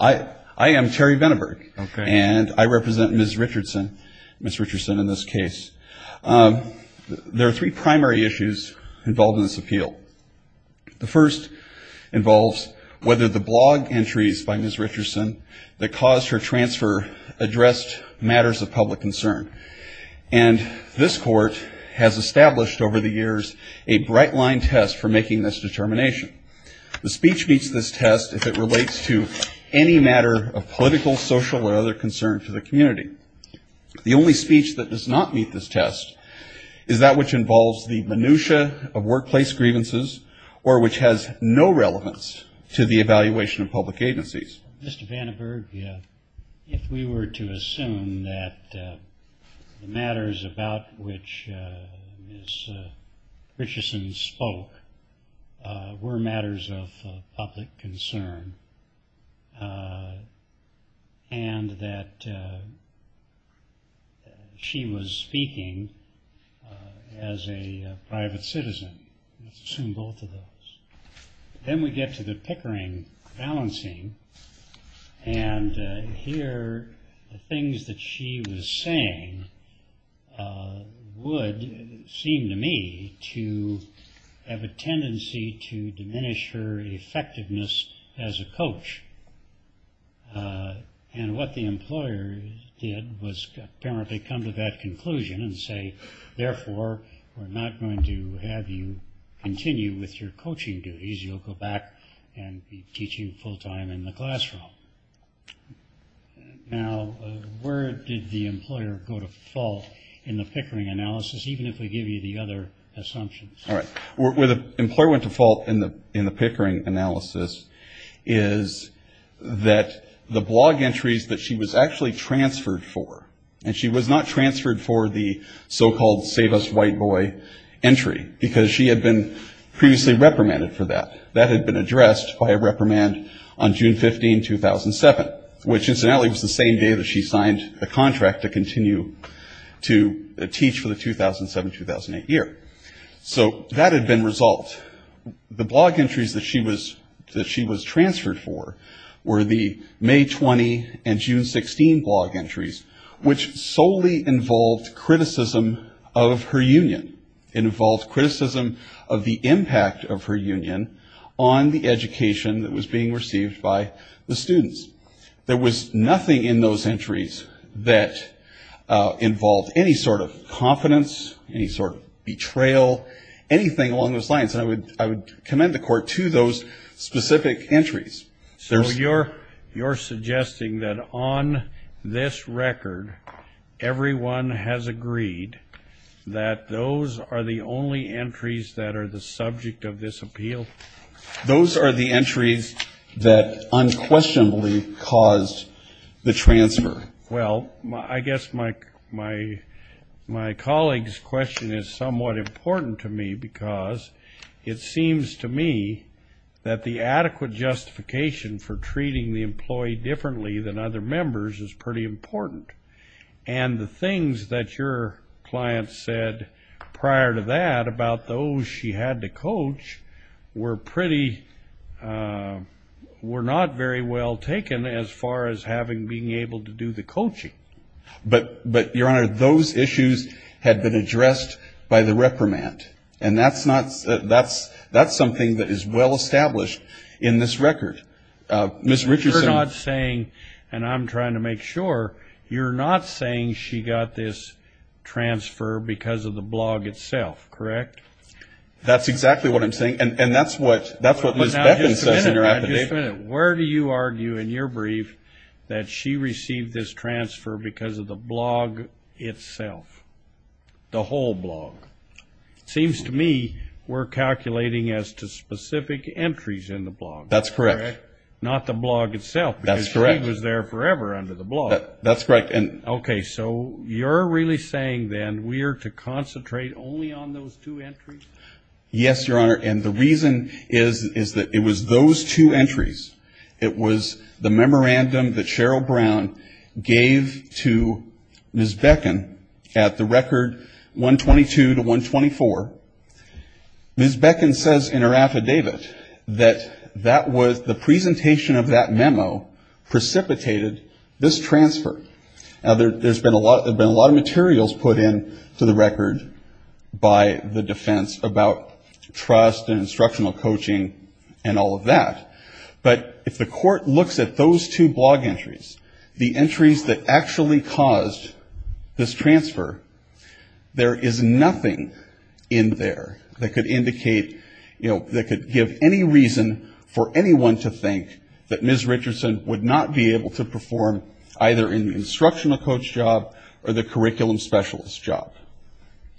I am Terry Benneberg, and I represent Ms. Richardson in this case. There are three primary issues involved in this appeal. The first involves whether the blog entries by Ms. Richardson that caused her transfer addressed matters of public concern. And this court has established over the years a bright-line test for making this determination. The speech meets this test if it relates to any matter of political, social, or other concern for the community. The only speech that does not meet this test is that which involves the minutia of workplace grievances or which has no relevance to the evaluation of public agencies. Mr. Benneberg, if we were to assume that the matters about which Ms. Richardson spoke were matters of public concern and that she was speaking as a private citizen, let's assume both of those. Then we get to the Pickering balancing. And here the things that she was saying would seem to me to have a tendency to diminish her effectiveness as a coach. And what the employer did was apparently come to that conclusion and say, therefore, we're not going to have you continue with your coaching duties. You'll go back and be teaching full-time in the classroom. Now, where did the employer go to fault in the Pickering analysis, even if we give you the other assumptions? All right. Where the employer went to fault in the Pickering analysis is that the blog entries that she was actually transferred for and she was not transferred for the so-called Save Us White Boy entry because she had been previously reprimanded for that. That had been addressed by a reprimand on June 15, 2007, which incidentally was the same day that she signed the contract to continue to teach for the 2007-2008 year. So that had been resolved. The blog entries that she was transferred for were the May 20 and June 16 blog entries, which solely involved criticism of her union. It involved criticism of the impact of her union on the education that was being received by the students. There was nothing in those entries that involved any sort of confidence, any sort of betrayal, anything along those lines. And I would commend the court to those specific entries. So you're suggesting that on this record, everyone has agreed that those are the only entries that are the subject of this appeal? Those are the entries that unquestionably caused the transfer. Well, I guess my colleague's question is somewhat important to me because it seems to me that the adequate justification for treating the employee differently than other members is pretty important. And the things that your client said prior to that about those she had to coach were pretty, were not very well taken as far as having being able to do the coaching. But, Your Honor, those issues had been addressed by the reprimand. And that's something that is well established in this record. You're not saying, and I'm trying to make sure, you're not saying she got this transfer because of the blog itself, correct? That's exactly what I'm saying. And that's what Ms. Beffen says in her affidavit. Where do you argue in your brief that she received this transfer because of the blog itself, the whole blog? It seems to me we're calculating as to specific entries in the blog. That's correct. Not the blog itself. That's correct. Because she was there forever under the blog. That's correct. Okay. So you're really saying then we are to concentrate only on those two entries? Yes, Your Honor. And the reason is that it was those two entries. It was the memorandum that Cheryl Brown gave to Ms. Beffen at the record 122 to 124. Ms. Beffen says in her affidavit that that was the presentation of that memo precipitated this transfer. Now, there's been a lot of materials put into the record by the defense about trust and instructional coaching and all of that. But if the court looks at those two blog entries, the entries that actually caused this transfer, there is nothing in there. That could indicate, you know, that could give any reason for anyone to think that Ms. Richardson would not be able to perform either in the instructional coach job or the curriculum specialist job.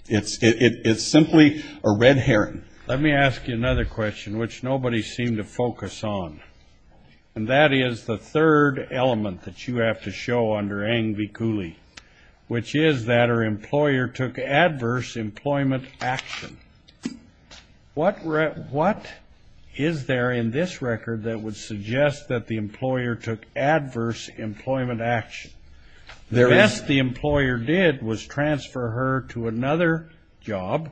It's simply a red herring. Let me ask you another question, which nobody seemed to focus on. And that is the third element that you have to show under Eng v. Cooley, which is that her employer took adverse employment action. What is there in this record that would suggest that the employer took adverse employment action? The best the employer did was transfer her to another job,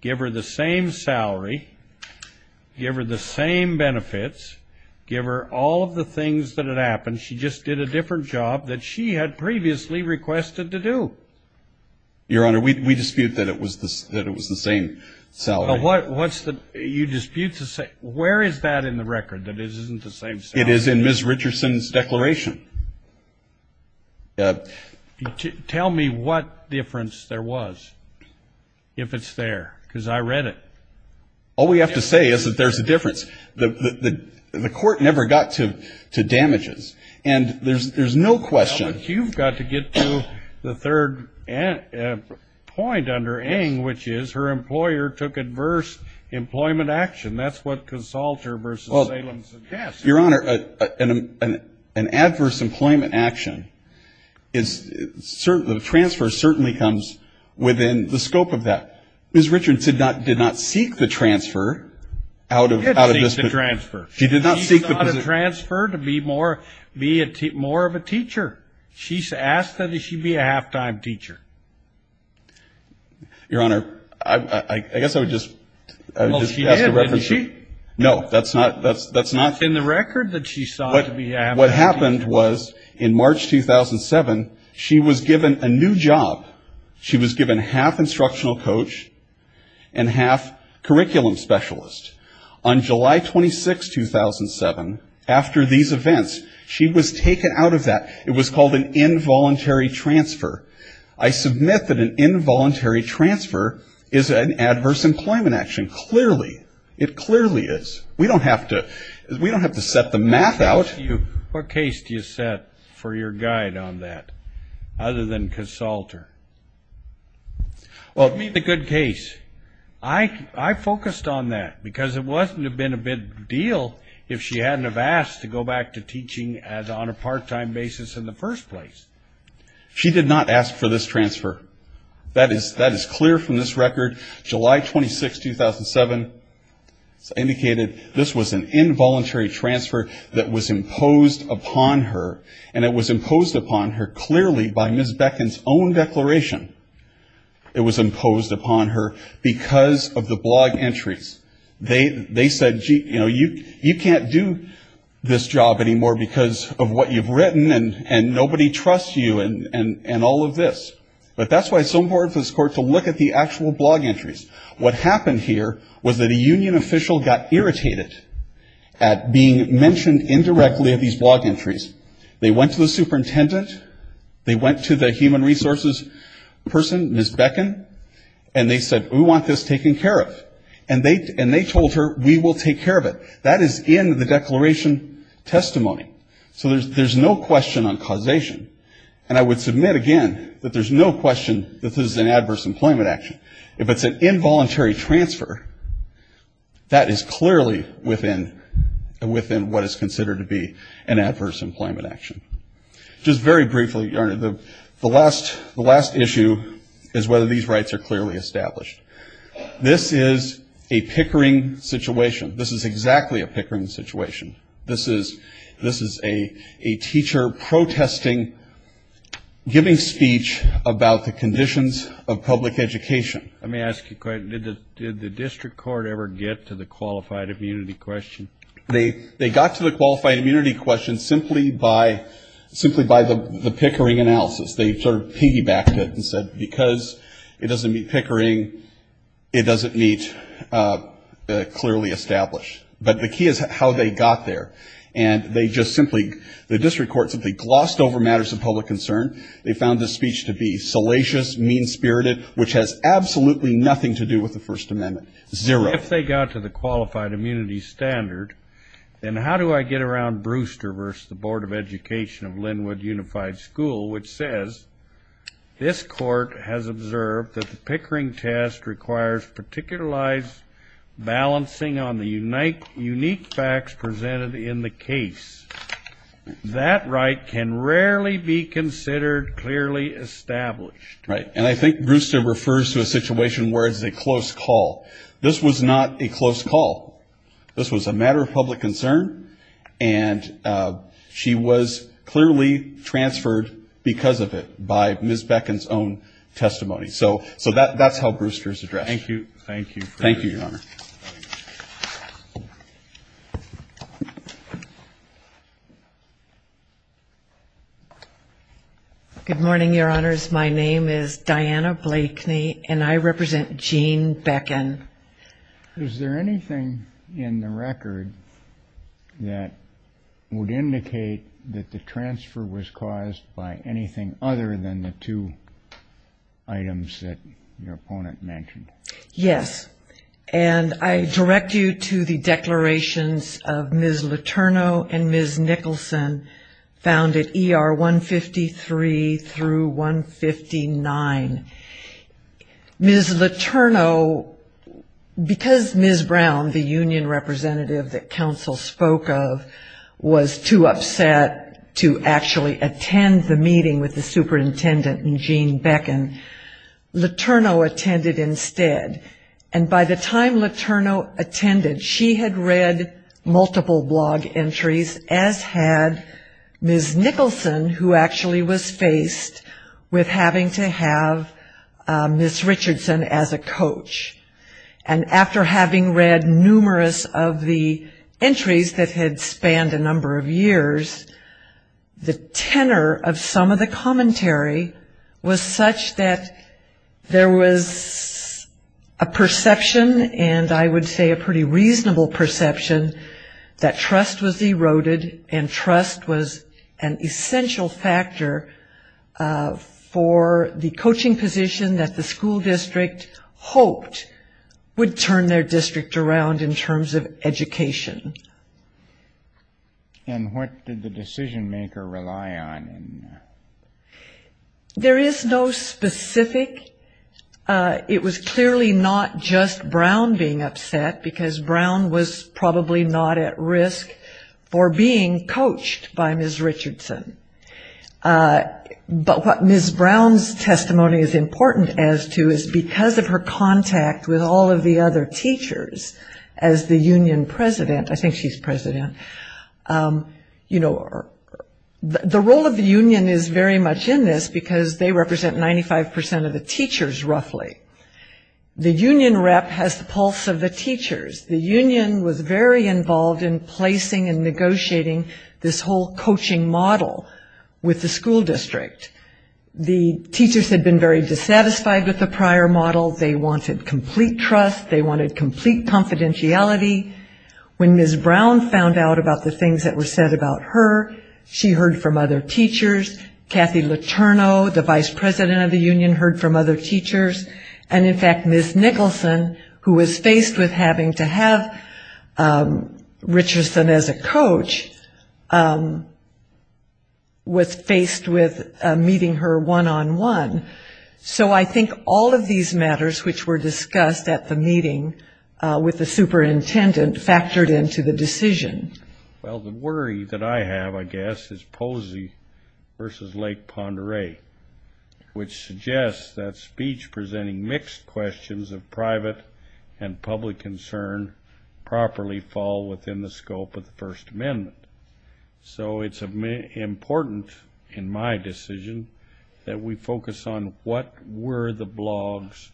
give her the same salary, give her the same benefits, give her the same benefits, and transfer her to another job. Give her all of the things that had happened, she just did a different job that she had previously requested to do. Your Honor, we dispute that it was the same salary. What's the, you dispute the, where is that in the record, that it isn't the same salary? It is in Ms. Richardson's declaration. Tell me what difference there was, if it's there, because I read it. All we have to say is that there's a difference. The court never got to damages. And there's no question. Well, but you've got to get to the third point under Eng, which is her employer took adverse employment action. That's what consulter v. Salem suggests. Your Honor, an adverse employment action, the transfer certainly comes within the scope of that. Ms. Richardson did not seek the transfer out of this position. She did seek the transfer. She did not seek the position. She sought a transfer to be more of a teacher. She asked that she be a halftime teacher. Your Honor, I guess I would just ask a reference. Well, she did, didn't she? No, that's not. It's in the record that she sought to be a halftime teacher. And what happened was in March 2007, she was given a new job. She was given half instructional coach and half curriculum specialist. On July 26, 2007, after these events, she was taken out of that. It was called an involuntary transfer. I submit that an involuntary transfer is an adverse employment action. Clearly. It clearly is. We don't have to set the math out. What case do you set for your guide on that other than consulter? Well, I mean the good case. I focused on that because it wouldn't have been a big deal if she hadn't have asked to go back to teaching on a part-time basis in the first place. She did not ask for this transfer. That is clear from this record. July 26, 2007, indicated this was an involuntary transfer that was imposed upon her, and it was imposed upon her clearly by Ms. Beckin's own declaration. It was imposed upon her because of the blog entries. They said, you know, you can't do this job anymore because of what you've written and nobody trusts you and all of this. But that's why it's so important for this court to look at the actual blog entries. What happened here was that a union official got irritated at being mentioned indirectly of these blog entries. They went to the superintendent. They went to the human resources person, Ms. Beckin, and they said, we want this taken care of. And they told her, we will take care of it. That is in the declaration testimony. So there's no question on causation. And I would submit again that there's no question that this is an adverse employment action. If it's an involuntary transfer, that is clearly within what is considered to be an adverse employment action. Just very briefly, Your Honor, the last issue is whether these rights are clearly established. This is a pickering situation. This is exactly a pickering situation. This is a teacher protesting, giving speech about the conditions of public education. Let me ask you a question. Did the district court ever get to the qualified immunity question? They got to the qualified immunity question simply by the pickering analysis. They sort of piggybacked it and said because it doesn't meet pickering, it doesn't meet clearly established. But the key is how they got there. And they just simply, the district court simply glossed over matters of public concern. They found the speech to be salacious, mean-spirited, which has absolutely nothing to do with the First Amendment. Zero. If they got to the qualified immunity standard, then how do I get around Brewster versus the Board of Education of Linwood Unified School, which says this court has observed that the pickering test requires particularized balancing on the unique facts presented in the case. That right can rarely be considered clearly established. Right. And I think Brewster refers to a situation where it's a close call. This was not a close call. This was a matter of public concern. And she was clearly transferred because of it by Ms. Beckin's own testimony. So that's how Brewster is addressed. Thank you. Thank you. Thank you, Your Honor. Good morning, Your Honors. My name is Diana Blakeney, and I represent Gene Beckin. Is there anything in the record that would indicate that the transfer was caused by anything other than the two items that your opponent mentioned? Yes. And I direct you to the declarations of Ms. Letourneau and Ms. Nicholson found at ER 153 through 159. Ms. Letourneau, because Ms. Brown, the union representative that counsel spoke of, was too upset to actually attend the meeting with the superintendent and Gene Beckin, Letourneau attended instead. And by the time Letourneau attended, she had read multiple blog entries, as had Ms. Nicholson, who actually was faced with having to have Ms. Richardson as a coach. And after having read numerous of the entries that had spanned a number of years, the tenor of some of the commentary was such that there was a perception, and I would say a pretty reasonable perception, that trust was eroded, and trust was an essential factor for the coaching position that the school district hoped would turn their district around in terms of education. And what did the decision-maker rely on in that? There is no specific. It was clearly not just Brown being upset, because Brown was probably not at risk for being coached by Ms. Richardson. But what Ms. Brown's testimony is important as to is because of her contact with all of the other teachers as the union president, I think she's president, you know, the role of the union is very much in this because they represent 95% of the teachers roughly. The union rep has the pulse of the teachers. The union was very involved in placing and negotiating this whole coaching model with the school district. The teachers had been very dissatisfied with the prior model. They wanted complete trust. They wanted complete confidentiality. When Ms. Brown found out about the things that were said about her, she heard from other teachers. Kathy Letourneau, the vice president of the union, heard from other teachers. And, in fact, Ms. Nicholson, who was faced with having to have Richardson as a coach, was faced with meeting her one-on-one. So I think all of these matters which were discussed at the meeting with the superintendent factored into the decision. Well, the worry that I have, I guess, is Posey versus Lake Pend Oreille, which suggests that speech presenting mixed questions of private and public concern properly fall within the scope of the First Amendment. So it's important in my decision that we focus on what were the blog's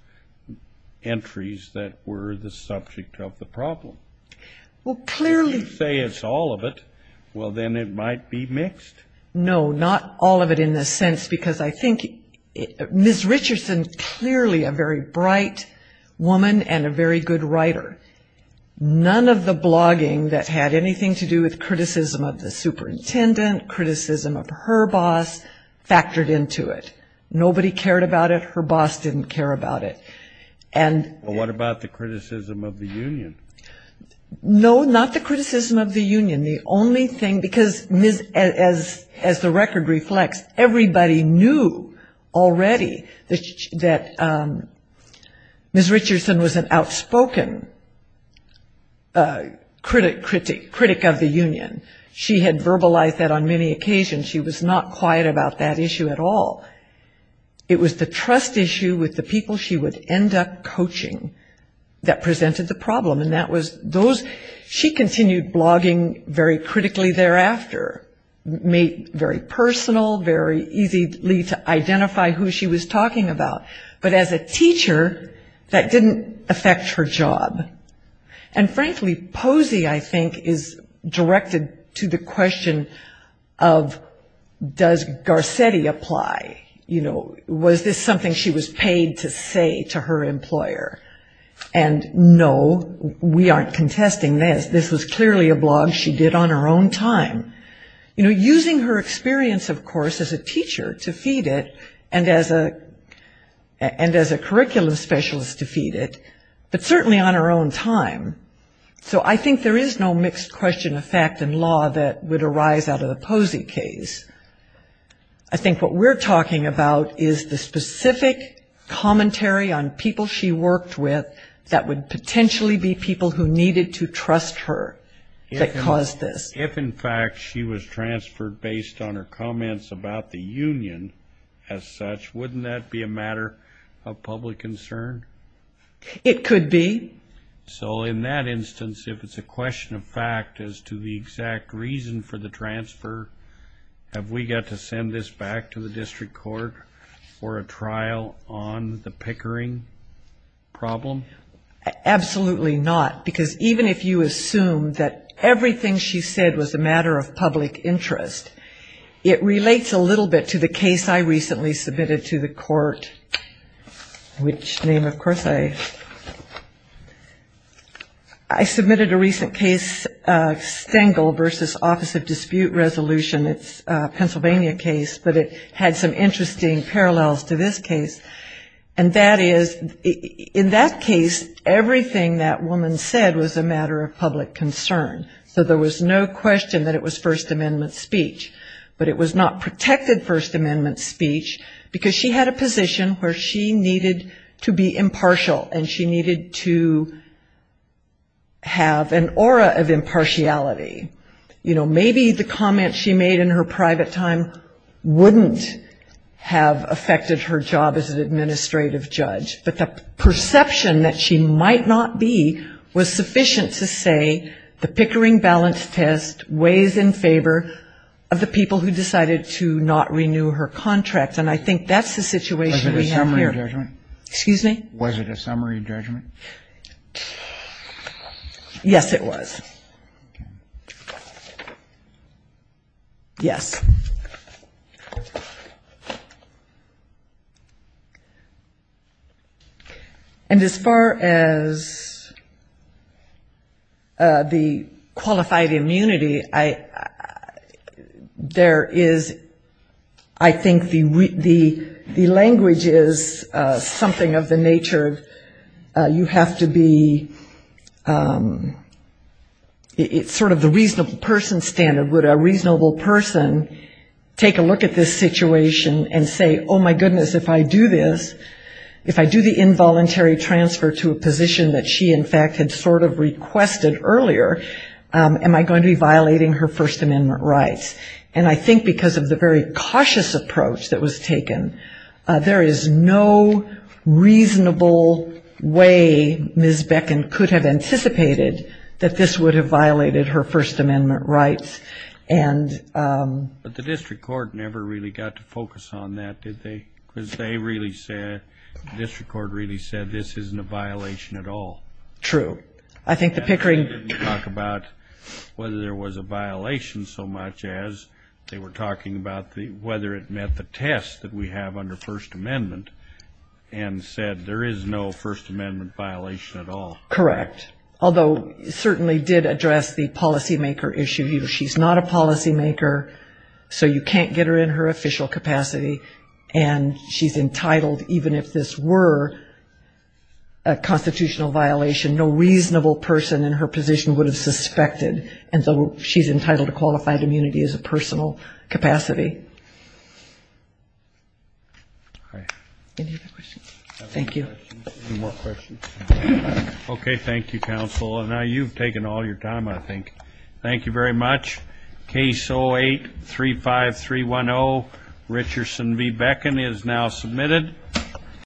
entries that were the subject of the problem. If you say it's all of it, well, then it might be mixed. No, not all of it in the sense because I think Ms. Richardson is clearly a very bright woman and a very good writer. None of the blogging that had anything to do with criticism of the superintendent, criticism of her boss, factored into it. Nobody cared about it. Her boss didn't care about it. Well, what about the criticism of the union? No, not the criticism of the union. Because, as the record reflects, everybody knew already that Ms. Richardson was an outspoken critic of the union. She had verbalized that on many occasions. She was not quiet about that issue at all. It was the trust issue with the people she would end up coaching that presented the problem. She continued blogging very critically thereafter, made it very personal, very easy to identify who she was talking about. But as a teacher, that didn't affect her job. And, frankly, Posey, I think, is directed to the question of does Garcetti apply? Was this something she was paid to say to her employer? And, no, we aren't contesting this. This was clearly a blog she did on her own time. You know, using her experience, of course, as a teacher to feed it and as a curriculum specialist to feed it, but certainly on her own time. So I think there is no mixed question of fact and law that would arise out of the Posey case. I think what we're talking about is the specific commentary on people she worked with that would potentially be people who needed to trust her that caused this. If, in fact, she was transferred based on her comments about the union as such, wouldn't that be a matter of public concern? It could be. So in that instance, if it's a question of fact as to the exact reason for the transfer, have we got to send this back to the district court for a trial on the Pickering problem? Absolutely not, because even if you assume that everything she said was a matter of public interest, it relates a little bit to the case I recently submitted to the court, which name, of course, I submitted a recent case, Stengel v. Office of Dispute Resolution. It's a Pennsylvania case, but it had some interesting parallels to this case. And that is, in that case, everything that woman said was a matter of public concern. So there was no question that it was First Amendment speech, but it was not protected First Amendment speech, because she had a position where she needed to be impartial, and she needed to have an aura of impartiality. You know, maybe the comments she made in her private time wouldn't have affected her job as an administrative judge, but the perception that she might not be was sufficient to say the Pickering balance test weighs in favor of the people who decided to not renew her contract. And I think that's the situation we have here. Was it a summary judgment? Excuse me? Was it a summary judgment? Yes, it was. Yes. Thank you. And as far as the qualified immunity, there is, I think, the language is something of the nature of you have to be It's sort of the reasonable person standard. Would a reasonable person take a look at this situation and say, oh, my goodness, if I do this, if I do the involuntary transfer to a position that she, in fact, had sort of requested earlier, am I going to be violating her First Amendment rights? And I think because of the very cautious approach that was taken, there is no reasonable way Ms. Beckin could have anticipated that this would have violated her First Amendment rights. But the district court never really got to focus on that, did they? Because they really said, the district court really said, this isn't a violation at all. True. I think the Pickering They didn't talk about whether there was a violation so much as they were talking about whether it met the test that we have under First Amendment and said there is no First Amendment violation at all. Correct. Although it certainly did address the policymaker issue. She's not a policymaker, so you can't get her in her official capacity, and she's entitled, even if this were a constitutional violation, no reasonable person in her position would have suspected, and so she's entitled to qualified immunity as a personal capacity. Any other questions? Thank you. Any more questions? Okay. Thank you, counsel. And now you've taken all your time, I think. Thank you very much. Case 08-35310, Richardson v. Beckin is now submitted.